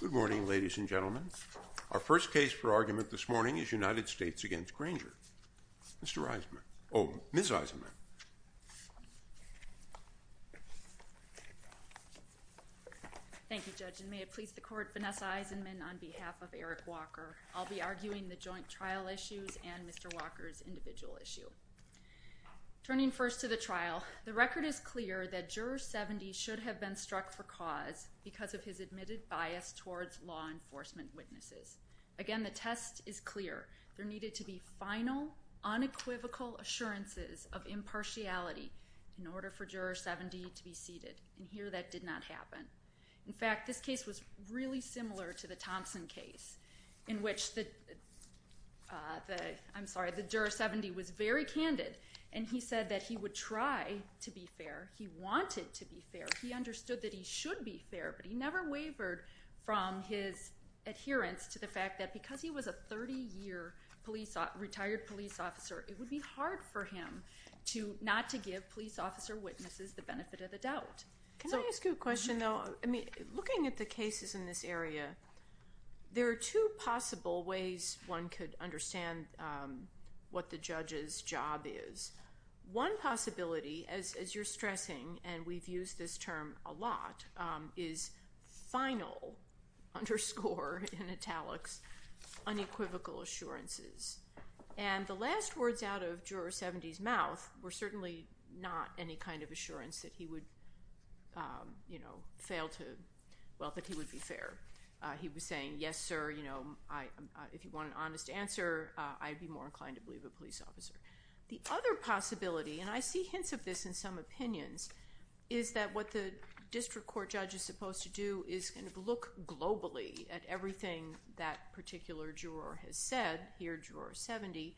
Good morning, ladies and gentlemen. Our first case for argument this morning is United States v. Granger. Ms. Eisenman. Thank you, Judge. And may it please the Court, Vanessa Eisenman on behalf of Eric Walker. I'll be arguing the joint trial issues and Mr. Walker's individual issue. Turning first to the trial, the record is clear that Juror 70 should have been struck for cause because of his admitted bias towards law enforcement witnesses. Again, the test is clear. There needed to be final, unequivocal assurances of impartiality in order for Juror 70 to be seated. And here that did not happen. In fact, this case was really similar to the very candid. And he said that he would try to be fair. He wanted to be fair. He understood that he should be fair, but he never wavered from his adherence to the fact that because he was a 30-year retired police officer, it would be hard for him not to give police officer witnesses the benefit of the doubt. Can I ask you a question, though? Looking at the what the judge's job is, one possibility, as you're stressing, and we've used this term a lot, is final, underscore in italics, unequivocal assurances. And the last words out of Juror 70's mouth were certainly not any kind of assurance that he would fail to, well, that he would be fair. He was saying, yes, sir, if you want an honest answer, I'd be more than happy to leave a police officer. The other possibility, and I see hints of this in some opinions, is that what the district court judge is supposed to do is kind of look globally at everything that particular juror has said, here, Juror 70,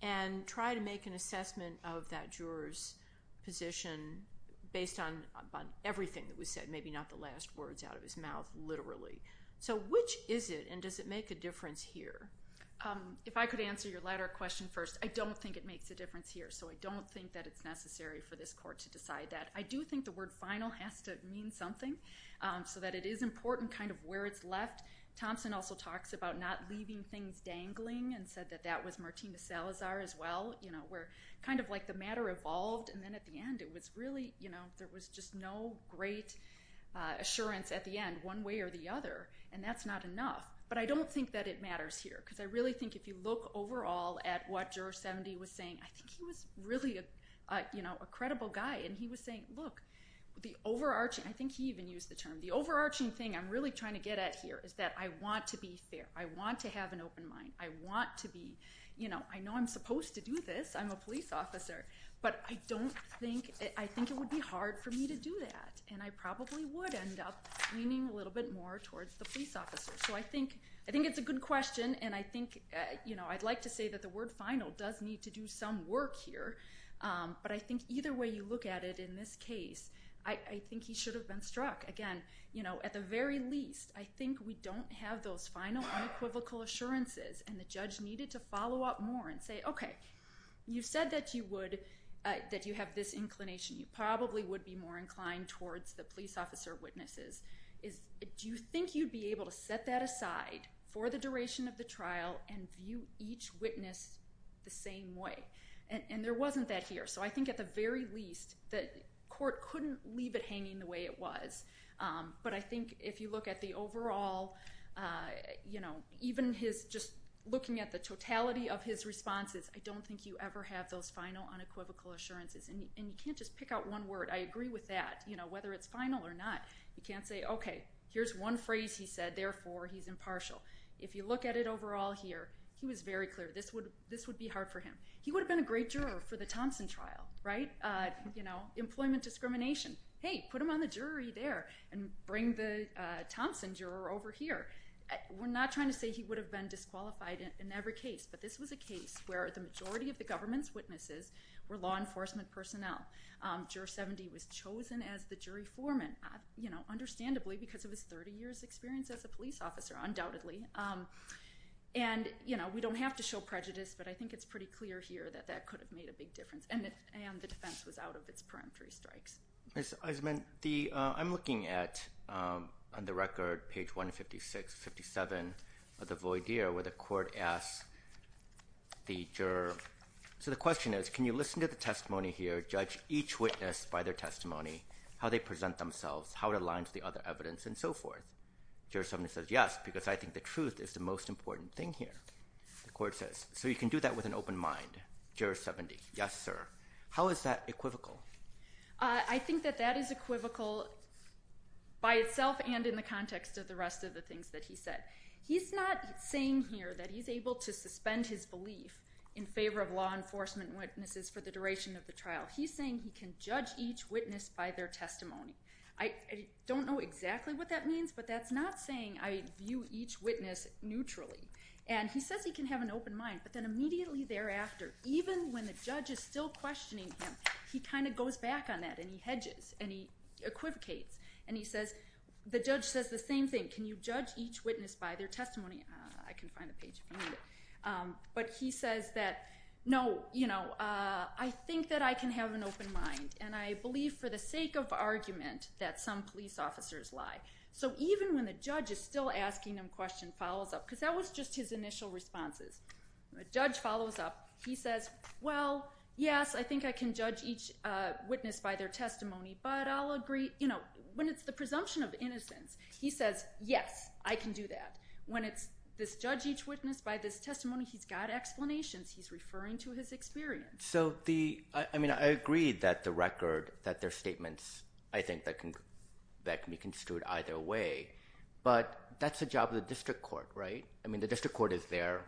and try to make an assessment of that juror's position based on everything that was said, maybe not the last words out of his mouth, literally. So which is it, and does it make a difference here? If I could answer your latter question first, I don't think it makes a difference here, so I don't think that it's necessary for this court to decide that. I do think the word final has to mean something, so that it is important kind of where it's left. Thompson also talks about not leaving things dangling, and said that that was Martina Salazar as well, where kind of like the matter evolved, and then at the end it was really, there was just no great assurance at the end, one way or the other, and that's not enough. But I don't think that it matters here, because I really think if you look overall at what Juror 70 was saying, I think he was really a credible guy, and he was saying, look, the overarching, I think he even used the term, the overarching thing I'm really trying to get at here is that I want to be fair, I want to have an open mind, I want to be, you know, I know I'm supposed to do this, I'm a police officer, but I don't think, I think it would be hard for me to do that, and I probably would end up leaning a little bit more towards the police officer. So I think it's a good question, and I think, you know, I'd like to say that the word final does need to do some work here, but I think either way you look at it in this case, I think he should have been struck. Again, you know, at the very least, I think we don't have those final unequivocal assurances, and the judge needed to follow up more and say, okay, you said that you would, that you have this inclination, you probably would be more inclined towards the police officer witnesses. Do you think you'd be able to set that aside for the duration of the trial and view each witness the same way? And there wasn't that here, so I think at the very least the court couldn't leave it hanging the way it was, but I think if you look at the overall, you know, even his just looking at the totality of his responses, I don't think you ever have those final unequivocal assurances, and you can't just pick out one word, I agree with that, you know, whether it's final or not. You can't say, okay, here's one phrase he said, therefore he's impartial. If you look at it overall here, he was very clear, this would be hard for him. He would have been a great juror for the Thompson trial, right? You know, employment discrimination. Hey, put him on the jury there, and bring the Thompson juror over here. We're not trying to say he would have been disqualified in every case, but this was a case where the majority of the government's witnesses were law enforcement personnel. Juror 70 was chosen as the jury foreman, you know, understandably, because of his 30 years experience as a police officer, undoubtedly. And, you know, we don't have to show prejudice, but I think it's pretty clear here that that could have made a big difference, and the defense was out of its peremptory strikes. Ms. Eisman, I'm looking at, on the record, page 156, 57 of the voidere, where the court asks the juror, so the question is, can you listen to the testimony here, judge each witness by their testimony, how they present themselves, how it aligns with the other evidence, and so forth? Juror 70 says, yes, because I think the truth is the most important thing here. The court says, so you can do that with an open mind? Juror 70, yes, sir. How is that equivocal? I think that that is equivocal by itself and in the context of the rest of the things that he said. He's not saying here that he's able to suspend his belief in favor of law enforcement witnesses for the duration of the trial. He's saying he can judge each witness by their testimony. I don't know exactly what that means, but that's not saying I view each witness neutrally, and he says he can have an open mind, but then immediately thereafter, even when the judge is still questioning him, he kind of goes back on that, and he hedges, and he equivocates, and he says, the judge says the same thing, can you judge each witness by their testimony? I can find the page if I need it. But he says that, no, I think that I can have an open mind, and I believe for the sake of argument that some police officers lie. So even when the judge is still asking him questions, he follows up, because that was just his initial responses. The judge follows up. He says, well, yes, I think I can judge each witness by their testimony, but I'll agree, you know, when it's the presumption of innocence, he says, yes, I can do that. When it's this judge each witness by this testimony, he's got explanations. He's referring to his experience. So the, I mean, I agree that the record, that their statements, I think that can be construed either way, but that's the job of the district court, right? I mean, the district court is there.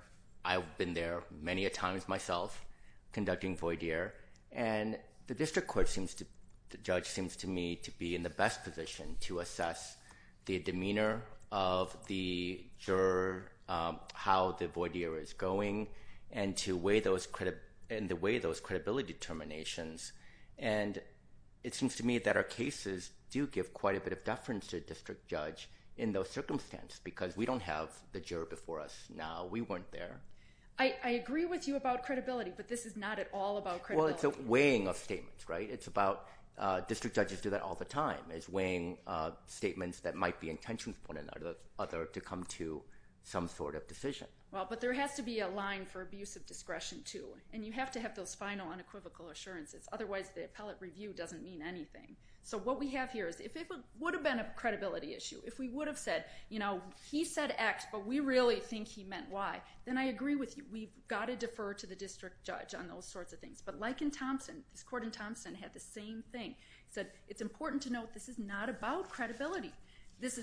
I've been there many a times myself, conducting voir dire, and the district court judge seems to me to be in the best position to assess the demeanor of the juror, how the voir dire is going, and to weigh those credibility determinations. And it seems to me that our cases do give quite a bit of deference to the district judge in those circumstances, because we don't have the juror before us now. We weren't there. I agree with you about credibility, but this is not at all about credibility. Well, it's a weighing of statements, right? It's about, district judges do that all the time, is weighing statements that might be intentions of one or the other to come to some sort of decision. Well, but there has to be a line for abuse of discretion too, and you have to have those final unequivocal assurances. Otherwise, the appellate review doesn't mean anything. So what we have here is if it would have been a credibility issue, if we would have said, you know, he said X, but we really think he meant Y, then I agree with you. We've got to defer to the district judge on those sorts of things. But like in Thompson, this court in Thompson had the same thing. It said, it's important to note this is not about credibility.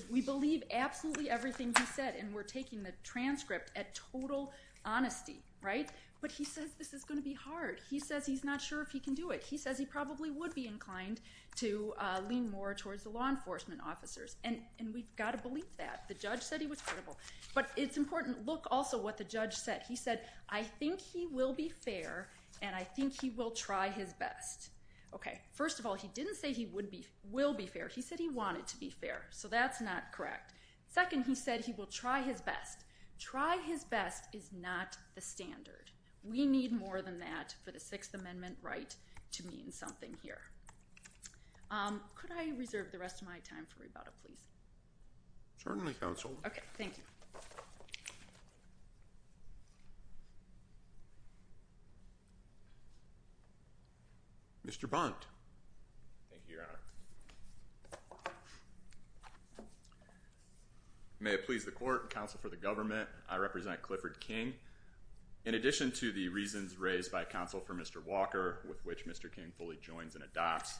We believe absolutely everything he said, and we're taking the transcript at total honesty, right? But he says this is going to be hard. He says he's not sure if he can do it. He says he probably would be inclined to lean more towards the law enforcement officers. And we've got to believe that. The judge said he was credible. But it's important. Look also what the judge said. He said, I think he will be fair, and I think he will try his best. Okay. First of all, he didn't say he will be fair. He said he wanted to be fair. So that's not correct. Second, he said he will try his best. Try his best is not the standard. We need more than that for the Sixth Amendment right to mean something here. Could I reserve the rest of my time for rebuttal, please? Certainly, counsel. Okay, thank you. Mr. Bunt. Thank you, Your Honor. May it please the court and counsel for the government, I represent Clifford King. In addition to the reasons raised by counsel for Mr. Walker, with which Mr. King fully joins and adopts,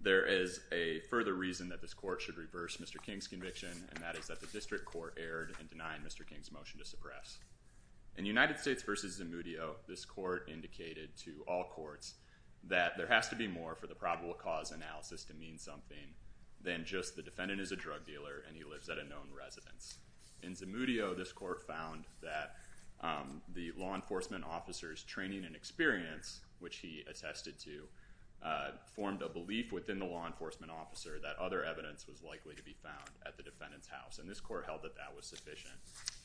there is a further reason that this court should reverse Mr. King's motion. The District Court erred in denying Mr. King's motion to suppress. In United States v. Zamudio, this court indicated to all courts that there has to be more for the probable cause analysis to mean something than just the defendant is a drug dealer and he lives at a known residence. In Zamudio, this court found that the law enforcement officer's training and experience, which he attested to, formed a belief within the law enforcement officer that other evidence was likely to be found at the defendant's residence. The District Court held that that was sufficient.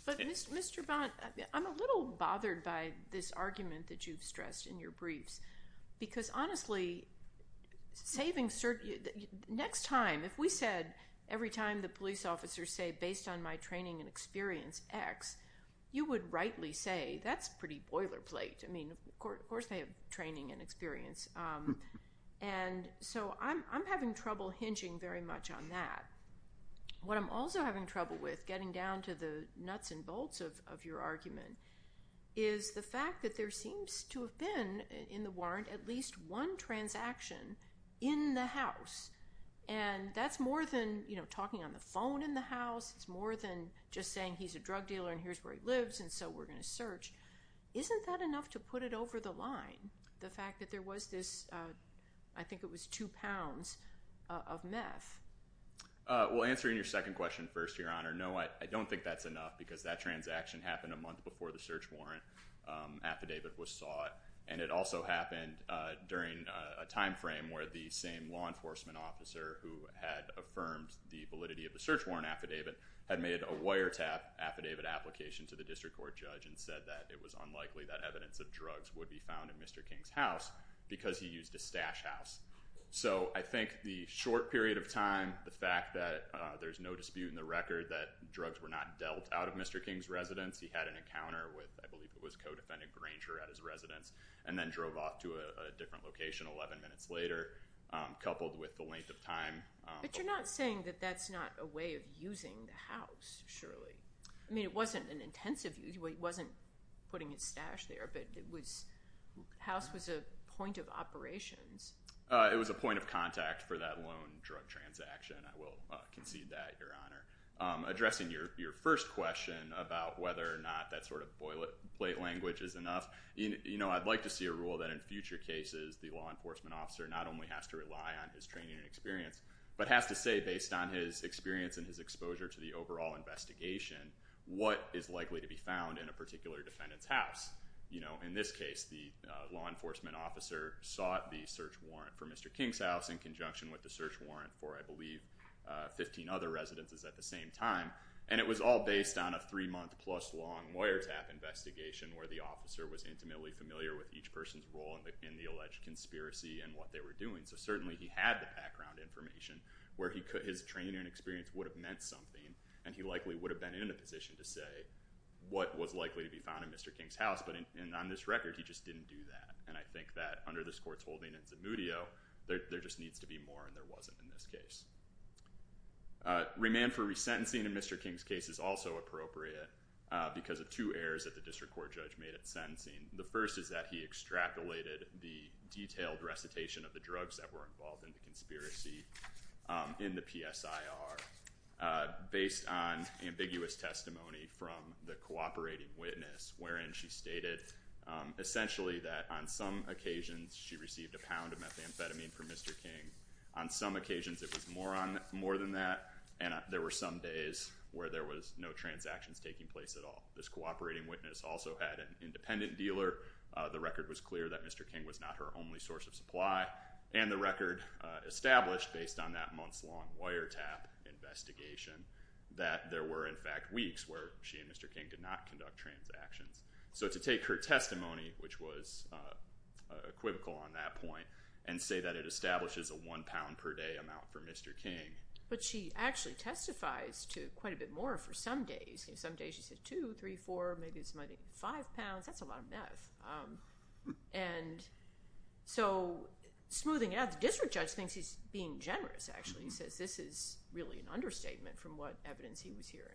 But Mr. Bunt, I'm a little bothered by this argument that you've stressed in your briefs. Because honestly, next time, if we said every time the police officers say, based on my training and experience, X, you would rightly say, that's pretty boilerplate. I mean, of course they have training and experience. And so I'm having trouble very much on that. What I'm also having trouble with, getting down to the nuts and bolts of your argument, is the fact that there seems to have been in the warrant at least one transaction in the house. And that's more than talking on the phone in the house. It's more than just saying he's a drug dealer and here's where he lives and so we're going to search. Isn't that enough to put it over the line, the fact that there was this, I think it was two pounds of meth? Well, answering your second question first, Your Honor, no, I don't think that's enough. Because that transaction happened a month before the search warrant affidavit was sought. And it also happened during a time frame where the same law enforcement officer who had affirmed the validity of the search warrant affidavit had made a wiretap affidavit application to the District Court judge and said that it was unlikely that because he used a stash house. So I think the short period of time, the fact that there's no dispute in the record that drugs were not dealt out of Mr. King's residence, he had an encounter with, I believe it was co-defendant Granger at his residence, and then drove off to a different location 11 minutes later, coupled with the length of time. But you're not saying that that's not a way of using the house, surely? I mean, it wasn't putting his stash there, but the house was a point of operations. It was a point of contact for that loan drug transaction. I will concede that, Your Honor. Addressing your first question about whether or not that sort of boilerplate language is enough, I'd like to see a rule that in future cases, the law enforcement officer not only has to rely on his training and experience, but has to say based on his experience and exposure to the overall investigation, what is likely to be found in a particular defendant's house. You know, in this case, the law enforcement officer sought the search warrant for Mr. King's house in conjunction with the search warrant for, I believe, 15 other residences at the same time. And it was all based on a three-month-plus-long lawyer tap investigation where the officer was intimately familiar with each person's role in the alleged conspiracy and what they were doing. So certainly he had the background information where his training and experience would have meant something, and he likely would have been in a position to say what was likely to be found in Mr. King's house. But on this record, he just didn't do that. And I think that under this Court's holding in Zamudio, there just needs to be more, and there wasn't in this case. Remand for resentencing in Mr. King's case is also appropriate because of two errors that the district court judge made at sentencing. The first is that he extrapolated the detailed based on ambiguous testimony from the cooperating witness wherein she stated essentially that on some occasions she received a pound of methamphetamine from Mr. King. On some occasions it was more than that, and there were some days where there was no transactions taking place at all. This cooperating witness also had an independent dealer. The record was clear that Mr. King was not her only source of supply. And the record established based on that months-long wiretap investigation that there were in fact weeks where she and Mr. King did not conduct transactions. So to take her testimony, which was equivocal on that point, and say that it establishes a one pound per day amount for Mr. King. But she actually testifies to quite a bit more for some days. Some days she said two, three, four, maybe five pounds. That's a lot of meth. And so smoothing it out, the district judge thinks he's being generous, actually. He says this is really an understatement from what evidence he was hearing.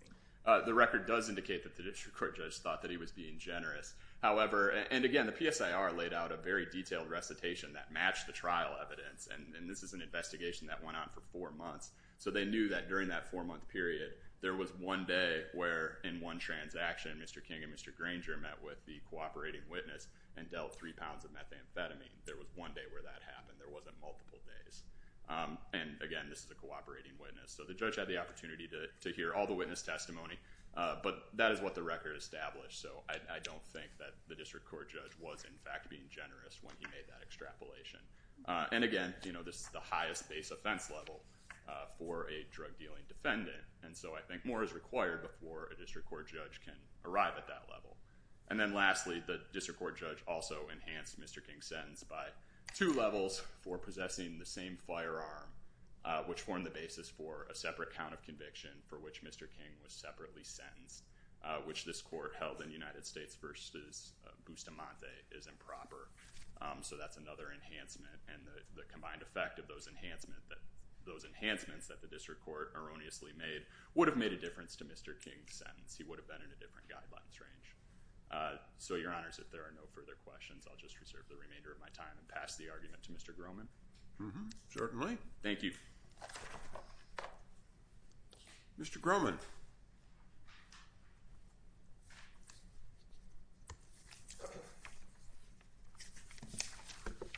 The record does indicate that the district court judge thought that he was being generous. However, and again, the PSIR laid out a very detailed recitation that matched the trial evidence. And this is an investigation that went on for four months. So they knew that during that four-month period there was one day where in one transaction Mr. King and Mr. Granger met with the cooperating witness and dealt three pounds of methamphetamine. There was one day where that happened. There wasn't multiple days. And again, this is a cooperating witness. So the judge had the opportunity to hear all the witness testimony. But that is what the record established. So I don't think that the district court judge was in fact being generous when he made that extrapolation. And again, this is the highest base offense level for a drug dealing defendant. And so I think more is required before a district court judge can arrive at that level. And then lastly, the district court judge also enhanced Mr. King's sentence by two levels for possessing the same firearm, which formed the basis for a separate count of conviction for which Mr. King was separately sentenced, which this court held in the United States v. Bustamante is improper. So that's another enhancement. And the combined effect of those enhancements that the district court erroneously made would have made a difference to Mr. King's in a different guidelines range. So your honors, if there are no further questions, I'll just reserve the remainder of my time and pass the argument to Mr. Grohman. Certainly. Thank you. Mr. Grohman.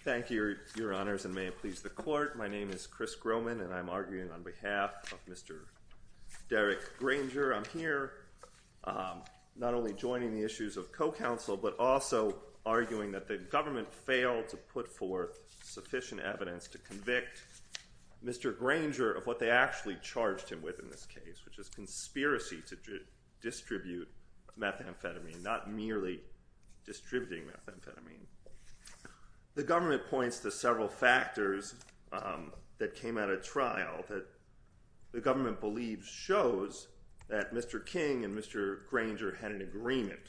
Thank you, your honors, and may it please the court. My name is Chris Grohman, and I'm arguing on behalf of Mr. Derek Granger. I'm here not only joining the issues of co-counsel, but also arguing that the government failed to put forth sufficient evidence to convict Mr. Granger of what they actually charged him with in this case, which is conspiracy to distribute methamphetamine, not merely distributing methamphetamine. The government points to several factors that came out of trial that the government believes shows that Mr. King and Mr. Granger had an agreement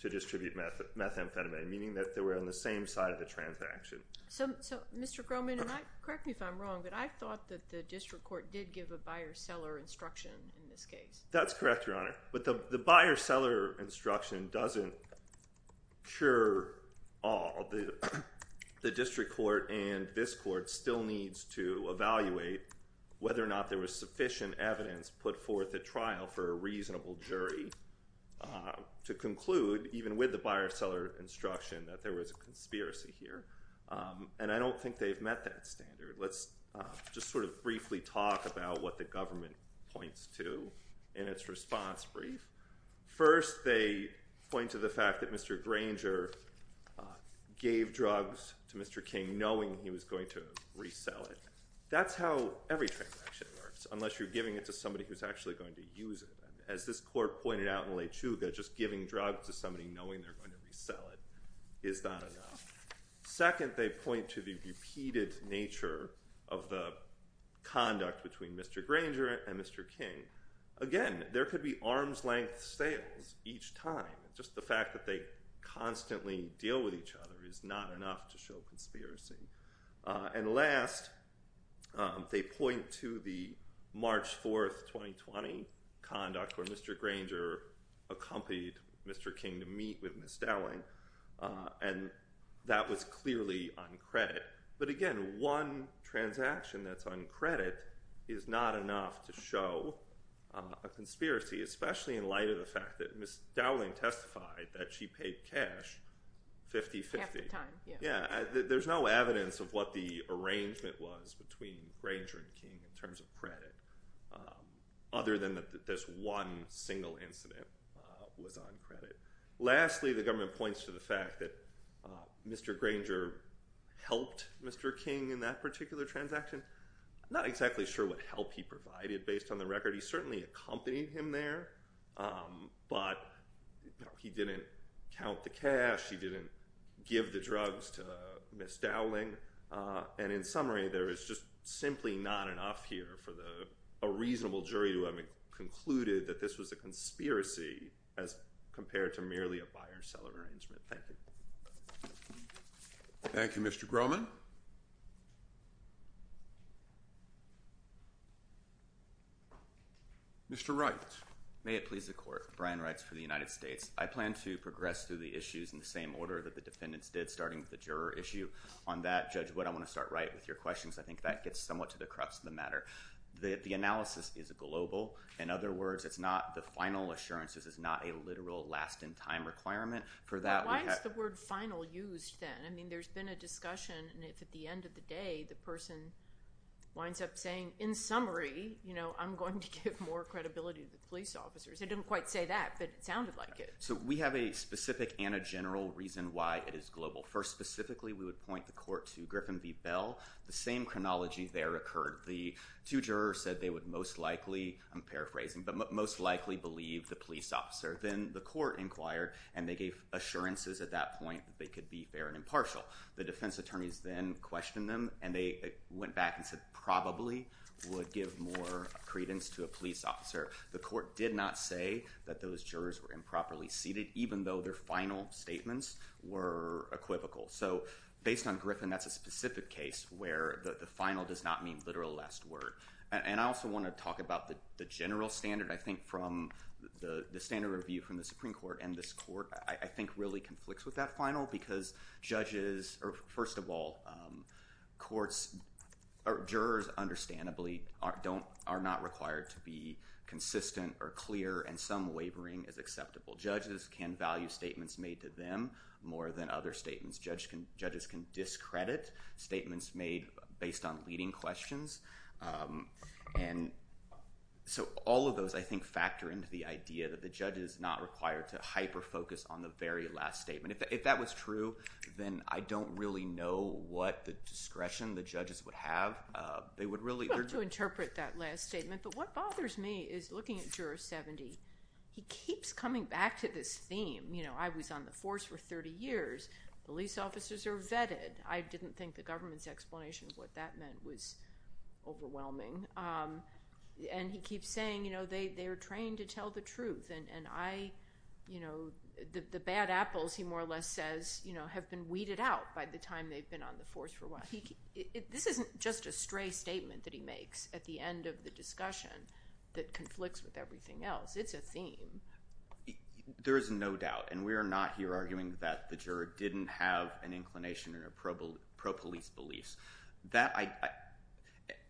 to distribute methamphetamine, meaning that they were on the same side of the transaction. So, Mr. Grohman, correct me if I'm wrong, but I thought that the district court did give a buyer-seller instruction in this case. That's correct, your honor, but the buyer-seller instruction doesn't cure all. The district court and this court still needs to evaluate whether or not there was sufficient evidence put forth at trial for a reasonable jury to conclude, even with the buyer-seller instruction, that there was a conspiracy here. And I don't think they've met that standard. Let's just sort of briefly talk about what the government points to in its response brief. First, they point to the fact that Mr. Granger gave drugs to Mr. King knowing he was going to resell it. That's how every transaction works, unless you're giving it to somebody who's actually going to use it. As this court pointed out in La Chuga, just giving drugs to somebody knowing they're going to resell it is not enough. Second, they point to the repeated nature of the Again, there could be arm's-length sales each time. Just the fact that they constantly deal with each other is not enough to show conspiracy. And last, they point to the March 4, 2020, conduct where Mr. Granger accompanied Mr. King to meet with Ms. Dowling, and that was clearly on credit. But again, one transaction that's on credit is not enough to show a conspiracy, especially in light of the fact that Ms. Dowling testified that she paid cash 50-50. There's no evidence of what the arrangement was between Granger and King in terms of credit, other than that this one single incident was on credit. Lastly, the government points to the fact that Mr. Granger helped Mr. King in that particular transaction. I'm not exactly sure what help he provided based on the record. He certainly accompanied him there, but he didn't count the cash, he didn't give the drugs to Ms. Dowling. And in summary, there is just simply not enough here for a reasonable jury to have concluded that this was a conspiracy as compared to merely a Thank you, Mr. Grohman. Mr. Wright. May it please the Court. Brian Wright for the United States. I plan to progress through the issues in the same order that the defendants did, starting with the juror issue. On that, Judge Wood, I want to start right with your questions. I think that gets somewhat to the crux of the matter. The analysis is global. In other words, it's not the final assurances, it's not a literal last-in-time requirement. Why is the word final used then? I mean, there's been a discussion, and if at the end of the day the person winds up saying, in summary, I'm going to give more credibility to the police officers. It didn't quite say that, but it sounded like it. We have a specific and a general reason why it is global. First, specifically, we would point the Court to Griffin v. Bell. The same chronology there occurred. The jury most likely believed the police officer. Then the Court inquired, and they gave assurances at that point that they could be fair and impartial. The defense attorneys then questioned them, and they went back and said probably would give more credence to a police officer. The Court did not say that those jurors were improperly seated, even though their final statements were equivocal. So based on Griffin, that's a specific case where the final does not mean last word. And I also want to talk about the general standard. I think from the standard review from the Supreme Court and this Court, I think really conflicts with that final because judges, or first of all, jurors understandably are not required to be consistent or clear, and some wavering is acceptable. Judges can value statements made to them more than other credit, statements made based on leading questions. And so all of those, I think, factor into the idea that the judge is not required to hyper-focus on the very last statement. If that was true, then I don't really know what discretion the judges would have. They would really— Well, to interpret that last statement, but what bothers me is looking at Juror 70. He keeps coming back to this theme. You know, I was on the force for 30 years. Police officers are vetted. I didn't think the government's explanation of what that meant was overwhelming. And he keeps saying, you know, they are trained to tell the truth. And I, you know, the bad apples, he more or less says, you know, have been weeded out by the time they've been on the force for a while. This isn't just a stray statement that he makes at the end of the discussion that conflicts with everything else. It's a theme. There is no doubt, and we didn't have an inclination or pro-police beliefs.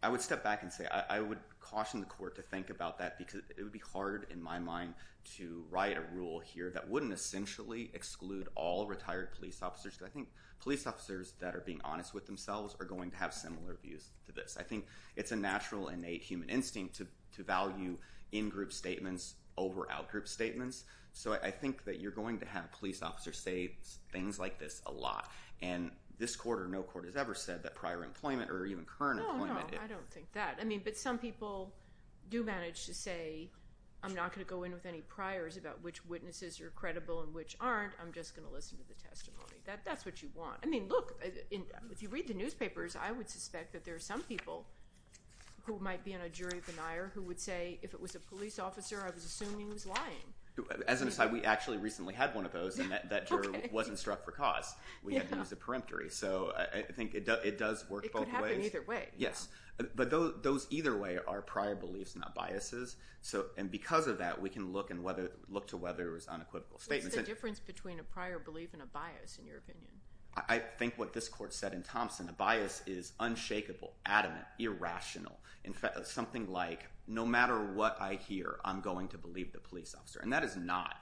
I would step back and say, I would caution the court to think about that because it would be hard in my mind to write a rule here that wouldn't essentially exclude all retired police officers. Because I think police officers that are being honest with themselves are going to have similar views to this. I think it's a natural, innate human instinct to value in-group statements over out-group statements. So I think that you're going to have police officers say things like this a lot. And this court or no court has ever said that prior employment or even current employment... No, no. I don't think that. I mean, but some people do manage to say, I'm not going to go in with any priors about which witnesses are credible and which aren't. I'm just going to listen to the testimony. That's what you want. I mean, look, if you read the newspapers, I would suspect that there are some people who might be in a jury denier who would say, if it was a police officer, I was assuming he was lying. As an aside, we actually recently had one of those and that jury wasn't struck for cause. We had to use the peremptory. So I think it does work both ways. It could happen either way. Yes. But those either way are prior beliefs, not biases. And because of that, we can look to whether it was unequivocal statements. What's the difference between a prior belief and a bias in your opinion? I think what this court said in Thompson, a bias is unshakable, adamant, irrational. Something like, no matter what I hear, I'm going to believe the police officer. And that is not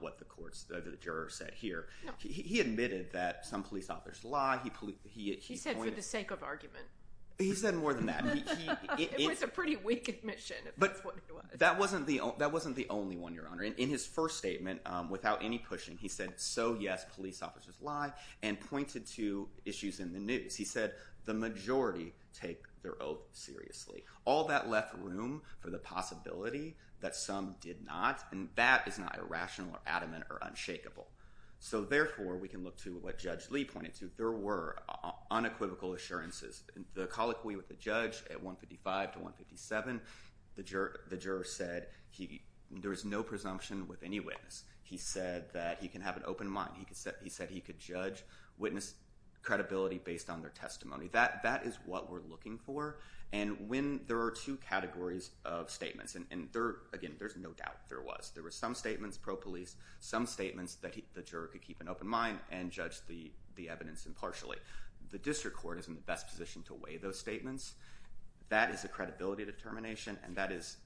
what the juror said here. He admitted that some police officers lie. He said for the sake of argument. He said more than that. It was a pretty weak admission, if that's what he was. That wasn't the only one, Your Honor. In his first statement, without any pushing, he said, so yes, police officers lie and pointed to issues in the news. He said, the majority take their oath seriously. All that left room for the possibility that some did not, and that is not irrational or adamant or unshakable. So therefore, we can look to what Judge Lee pointed to. There were unequivocal assurances. The colloquy with the judge at 155 to 157, the juror said there was no presumption with any witness. He said that he can have an open mind and judge the evidence impartially. The district court is in the best position to weigh those statements. That is a credibility determination, and that is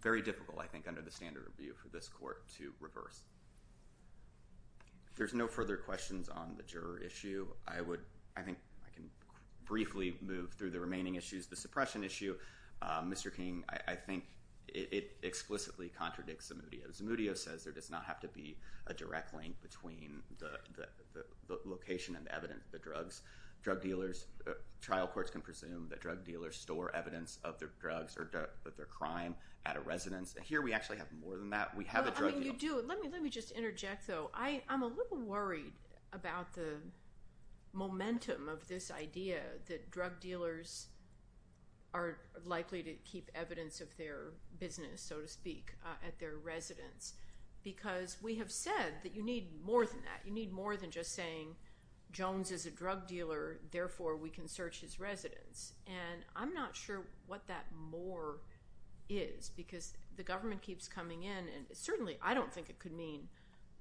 very difficult, I think, under the standard of view for this court to reverse. If there's no further questions on the juror issue, I think I can briefly move through the remaining issues. The suppression issue, Mr. King, I think it explicitly contradicts Zemudio. Zemudio says there does not have to be a direct link between the location and the evidence of the drugs. Drug dealers, trial courts can presume that drug dealers store evidence of their drugs or their crime at a residence. Here, we actually have more than that. We have a drug dealer. Let me just interject, though. I'm a little worried about the momentum of this idea that drug dealers are likely to keep evidence of their business, so to speak, at their residence, because we have said that you need more than that. You need more than just saying, Jones is a drug dealer, therefore we can search his residence. I'm not sure what that more is because the government keeps coming in. Certainly, I don't think it could mean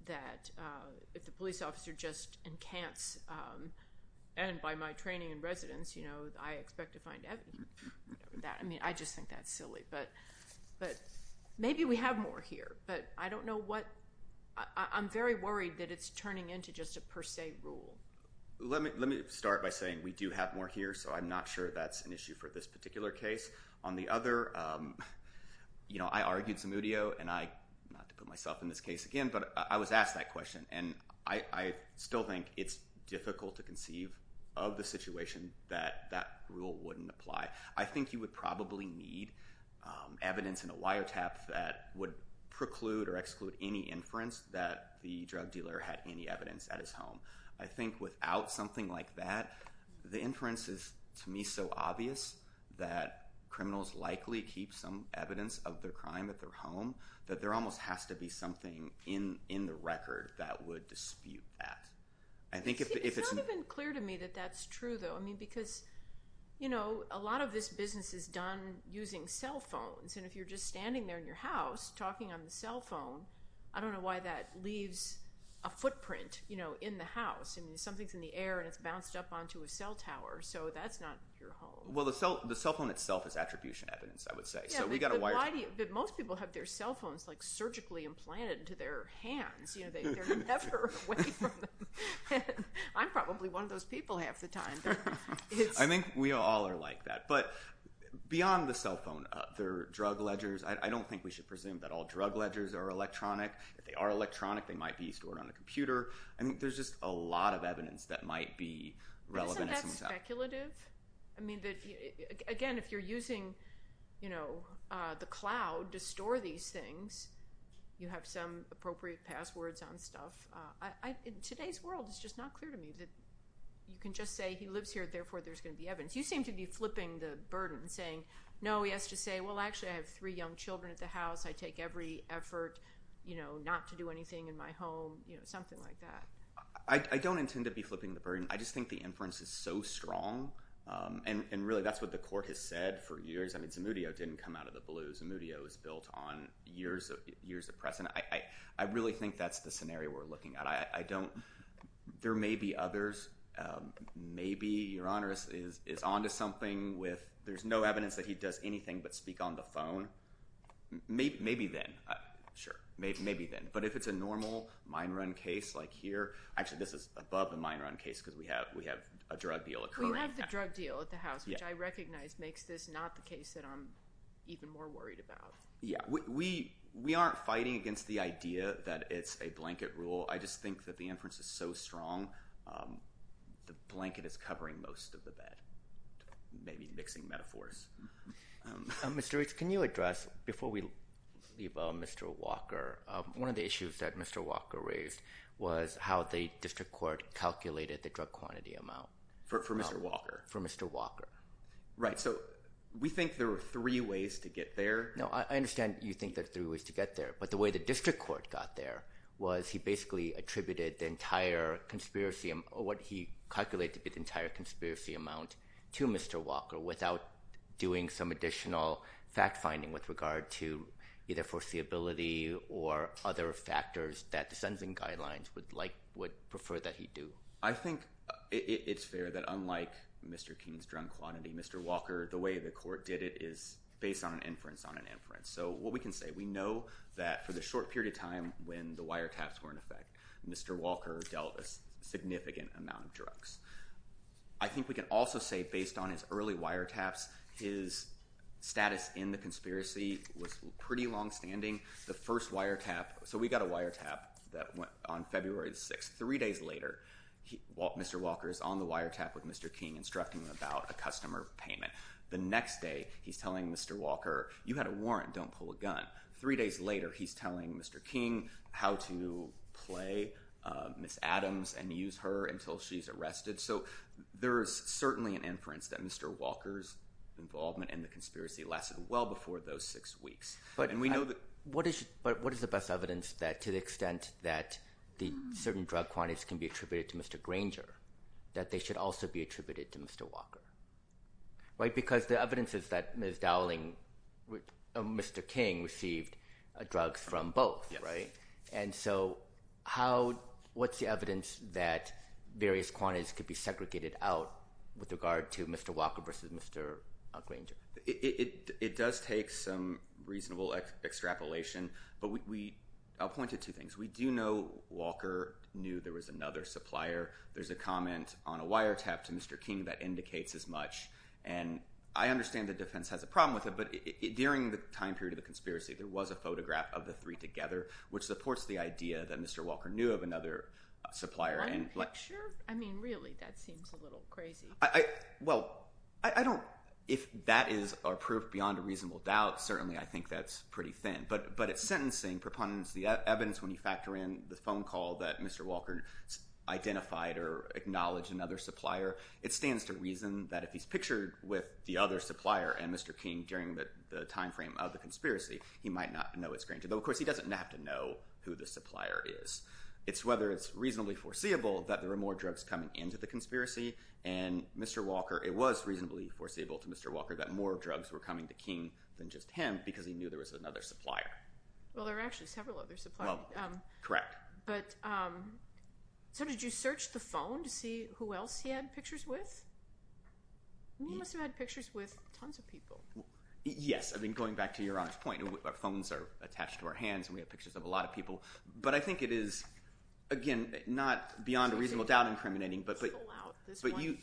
that if the police officer just encants, and by my training in residence, I expect to find evidence. I just think that's silly. Maybe we have more here, but I don't know what. I'm very worried that it's turning into just a per se rule. Let me start by saying we do have more here, so I'm not sure that's an issue for this particular case. On the other, I argued Zamudio, and not to put myself in this case again, but I was asked that question. I still think it's difficult to conceive of the situation that that rule wouldn't apply. I think you would probably need evidence in a wiretap that would preclude or exclude any inference that the drug dealer had any evidence at his home. I think without something like that, the inference is, to me, so obvious that criminals likely keep some evidence of their crime at their home that there almost has to be something in the record that would dispute that. It's not even clear to me that that's true, though, because a lot of this business is done using cell phones, and if you're just standing there in your house talking on the cell phone, I don't know why that leaves a footprint in the house. Something's in the air, and it's bounced up onto a cell tower, so that's not your home. Well, the cell phone itself is attribution evidence, I would say, so we got a wiretap. But most people have their cell phones surgically implanted into their hands. They're never away from them. I'm probably one of those people half the time. I think we all are like that, but beyond the cell phone, other drug ledgers, I don't think we should presume that all drug I think there's just a lot of evidence that might be relevant. Isn't that speculative? Again, if you're using the cloud to store these things, you have some appropriate passwords on stuff. In today's world, it's just not clear to me that you can just say, he lives here, therefore there's going to be evidence. You seem to be flipping the burden, saying, no, he has to say, well, actually, I have three young children at house. I take every effort not to do anything in my home, something like that. I don't intend to be flipping the burden. I just think the inference is so strong, and really, that's what the court has said for years. I mean, Zamudio didn't come out of the blue. Zamudio is built on years of precedent. I really think that's the scenario we're looking at. There may be others. Maybe Uranus is onto something with there's no evidence that he does anything but speak on the phone. Maybe then. Sure. Maybe then. But if it's a normal mine run case like here, actually, this is above the mine run case because we have a drug deal occurring. We have the drug deal at the house, which I recognize makes this not the case that I'm even more worried about. Yeah. We aren't fighting against the idea that it's a blanket rule. I just think that the inference is so strong, the blanket is covering most of the bed. Maybe mixing metaphors. Mr. Reach, can you address, before we leave on Mr. Walker, one of the issues that Mr. Walker raised was how the district court calculated the drug quantity amount. For Mr. Walker. For Mr. Walker. Right. So we think there were three ways to get there. No, I understand you think there are three ways to get there, but the way the district court got there was he basically attributed the entire conspiracy, what he calculated to be the entire conspiracy amount to Mr. Walker without doing some additional fact finding with regard to either foreseeability or other factors that the sentencing guidelines would like, would prefer that he do. I think it's fair that unlike Mr. King's drug quantity, Mr. Walker, the way the court did it is based on an inference on an inference. So what we can say, we know that for the short period of time when the wire taps were in effect, Mr. Walker dealt a significant amount of drugs. I think we can also say based on his early wire taps, his status in the conspiracy was pretty long standing. The first wire tap, so we got a wire tap that went on February 6th. Three days later, Mr. Walker is on the wire tap with Mr. King instructing him about a customer payment. The next day, he's telling Mr. Walker, you had a warrant, don't pull a gun. Three days later, he's telling Mr. King how to play Miss Adams and use her until she's arrested. So there's certainly an inference that Mr. Walker's involvement in the conspiracy lasted well before those six weeks. But what is the best evidence that to the extent that the certain drug quantities can be attributed to Mr. Granger, that they should also be attributed to Mr. Walker? Because the evidence is that Ms. Dowling, Mr. King received drugs from both, right? And so what's the evidence that various quantities could be segregated out with regard to Mr. Walker versus Mr. Granger? It does take some reasonable extrapolation, but I'll point to two things. We do know Walker knew there was another supplier. There's a comment on a wire tap to Mr. King that indicates as much. And I understand the defense has a problem with it, but during the time period of the conspiracy, there was a photograph of the three together, which supports the idea that Mr. Walker knew of another supplier. One picture? I mean, really, that seems a little crazy. I, well, I don't, if that is a proof beyond a reasonable doubt, certainly I think that's pretty thin. But at sentencing, preponderance of the evidence when you factor in the phone call that Mr. Walker identified or acknowledged another supplier, it stands to reason that if he's pictured with the other supplier and Mr. King during the time frame of the conspiracy, he might not know it's Granger. Though, of course, he doesn't have to know who the supplier is. It's whether it's reasonably foreseeable that there are more drugs coming into the conspiracy. And Mr. Walker, it was reasonably foreseeable to Mr. Walker that more drugs were coming to King than just him because he knew there was another supplier. Well, there are actually several other suppliers. Correct. But, so did you search the phone to see who else he had pictures with? He must have had pictures with tons of people. Yes. I mean, going back to your honest point, our phones are attached to our hands and we have pictures of a lot of people. But I think it is, again, not beyond a reasonable doubt incriminating, but you,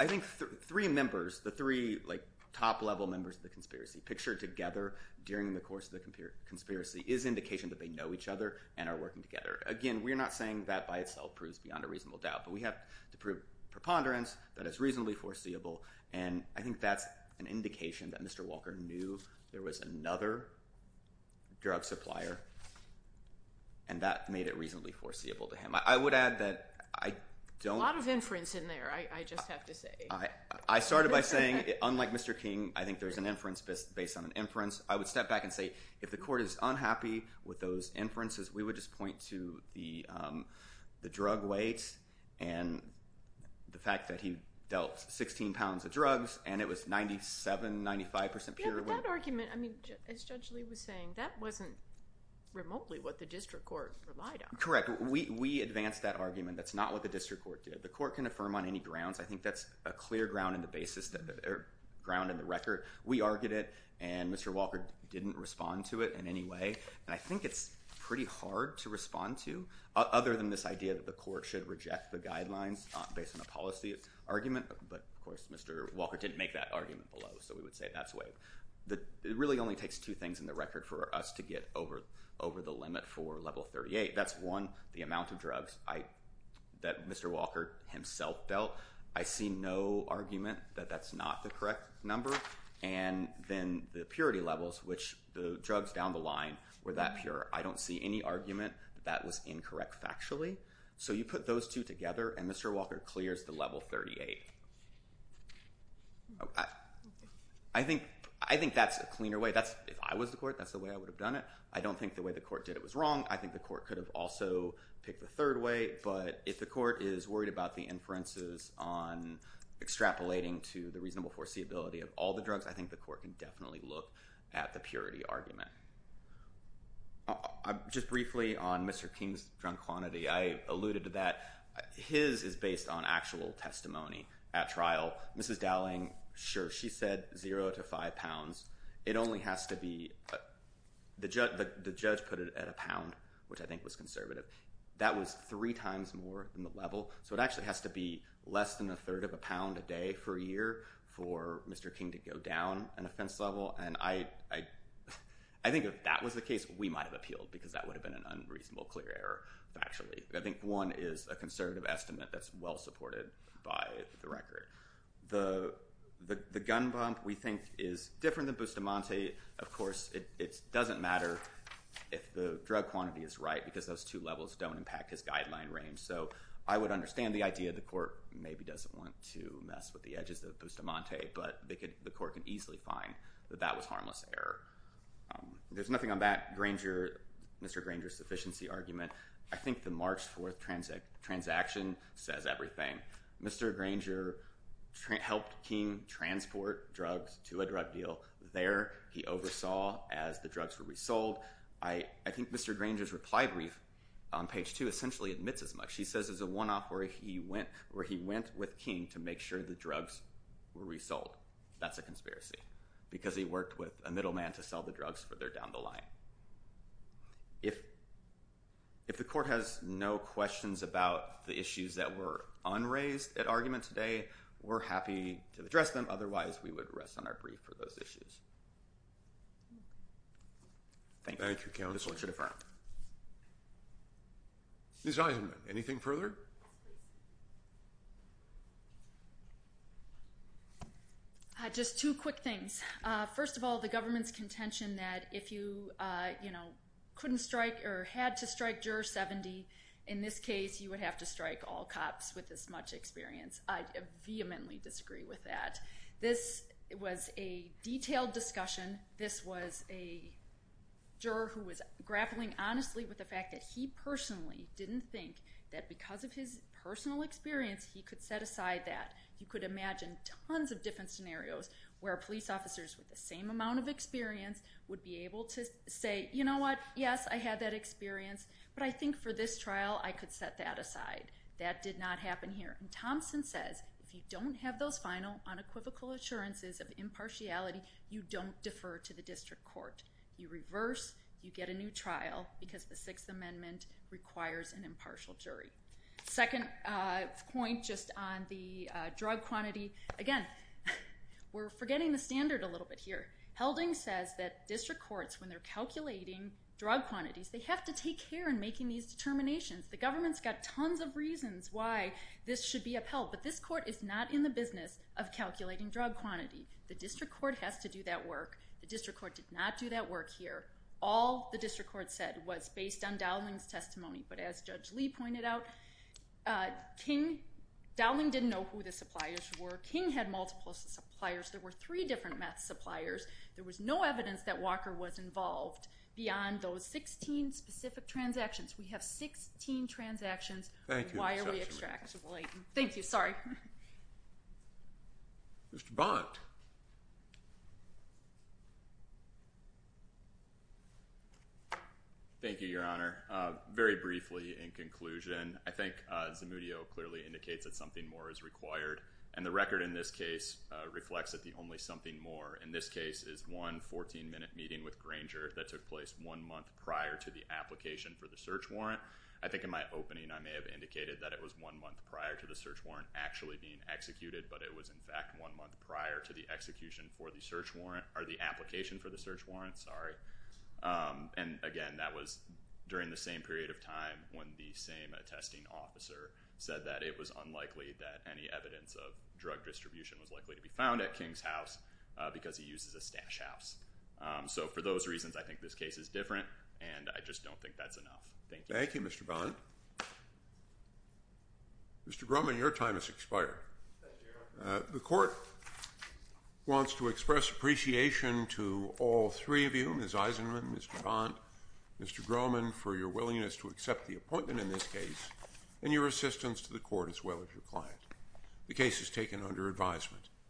I think three members, the three, like, top level members of the conspiracy pictured together during the course of the conspiracy is indication that they know each other and are working together. Again, we're not saying that by itself proves beyond a reasonable doubt, but we have to prove preponderance that is reasonably foreseeable. And I think that's an indication that Mr. Walker knew there was another drug supplier and that made it reasonably foreseeable to him. I would add that I don't... A lot of inference in there, I just have to say. I started by saying, unlike Mr. King, I think there's an inference based on an inference. I would step back and say, if the court is unhappy with those inferences, we would just point to the drug weight and the fact that he dealt 16 pounds of drugs and it was 97, 95% pure weight. Yeah, but that argument, I mean, as Judge Lee was saying, that wasn't remotely what the district court relied on. Correct. We advanced that argument. That's not what the district court did. The court can affirm on any grounds. I think that's a clear ground in the record. We argued it and Mr. Walker didn't respond to it in any way. And I think it's pretty hard to respond to other than this idea that the court should reject the guidelines based on a policy argument. But of course, Mr. Walker didn't make that argument below. So we would say that's way... It really only takes two things in the record for us to get over the limit for level 38. That's one, the amount of drugs that Mr. Walker himself dealt. I see no argument that that's not the correct number. And then the purity levels, which the drugs down the line were that pure. I don't see any argument that that was incorrect factually. So you put those two together and Mr. Walker clears the level 38. I think that's a cleaner way. If I was the court, that's the way I would have done it. I don't think the way the court did it was wrong. I think the court could have also picked the third way. But if the court is worried about the inferences on extrapolating to the reasonable foreseeability of all the drugs, I think the court can definitely look at the purity argument. Just briefly on Mr. King's drunk quantity, I alluded to that. His is based on actual testimony at trial. Mrs. Dowling, sure, she said zero to five pounds. It only has to be... The judge put it at a pound, which I think was conservative. That was three times more than the level. So it actually has to be less than a third of a pound a day for a year for Mr. King to go down an offense level. And I think if that was the case, we might have appealed because that would have been an unreasonable clear error factually. I think one is a conservative estimate that's well supported by the record. The gun bump we think is different than Bustamante. Of course, it doesn't matter if the drug quantity is right because those two levels don't impact his guideline range. So I would understand the idea the court maybe doesn't want to mess with the edges of Bustamante, but the court can easily find that that was harmless error. There's nothing on that Mr. Granger's sufficiency argument. I think the March 4th transaction says everything. Mr. Granger helped King transport drugs to a drug deal. There, he oversaw as the drugs were resold. I think Mr. Granger's reply brief on page two essentially admits as much. He says there's a one-off where he went with King to make sure the drugs were resold. That's a conspiracy because he worked with a middleman to sell the drugs for their down the line. If the court has no questions about the issues that were unraised at argument today, we're happy to address them. Otherwise, we would rest on our brief for those issues. Thank you. Thank you, counsel. Ms. Eisenman, anything further? Yes, please. Just two quick things. First of all, the government's contention that if you couldn't strike or had to strike Juror 70, in this case, you would have to strike all cops with this much experience. I vehemently disagree with that. This was a detailed discussion. This was a juror who was grappling honestly with the fact that he personally didn't think that because of his personal experience, he could set aside that. You could imagine tons of different scenarios where police officers with the same amount of experience would be able to say, you know what, yes, I had that experience, but I think for this trial, I could set that aside. That did not happen here. Thompson says if you don't have those final unequivocal assurances of impartiality, you don't defer to the district court. You reverse, you get a new trial because the Sixth Second point just on the drug quantity. Again, we're forgetting the standard a little bit here. Helding says that district courts, when they're calculating drug quantities, they have to take care in making these determinations. The government's got tons of reasons why this should be upheld, but this court is not in the business of calculating drug quantity. The district court has to do that work. The district court did not do that work here. All the district court said was based on Dowling's testimony, but as Judge Lee pointed out, King, Dowling didn't know who the suppliers were. King had multiple suppliers. There were three different meth suppliers. There was no evidence that Walker was involved beyond those 16 specific transactions. We have 16 transactions. Thank you. Why are we extracting? Thank you. Sorry. Mr. Bond. Thank you, Your Honor. Very briefly in conclusion, I think Zamudio clearly indicates that something more is required and the record in this case reflects that the only something more in this case is one 14 minute meeting with Granger that took place one month prior to the application for the search warrant. I think in my opening I may have indicated that it was one month prior to the search warrant actually being executed, but it was in fact one month prior to the execution for the search warrant or the application for the search warrant. Sorry. And again, that was during the same period of time when the same attesting officer said that it was unlikely that any evidence of drug distribution was likely to be found at King's house because he uses a stash house. So for those reasons, I think this case is different and I just don't think that's enough. Thank you. Thank you, Mr. Bond. Mr. Groman, your time has expired. The court wants to express appreciation to all three of you, Ms. Eisenman, Mr. Bond, Mr. Groman, for your willingness to accept the appointment in this case and your assistance to the court as well as your client. The case is taken under advisement.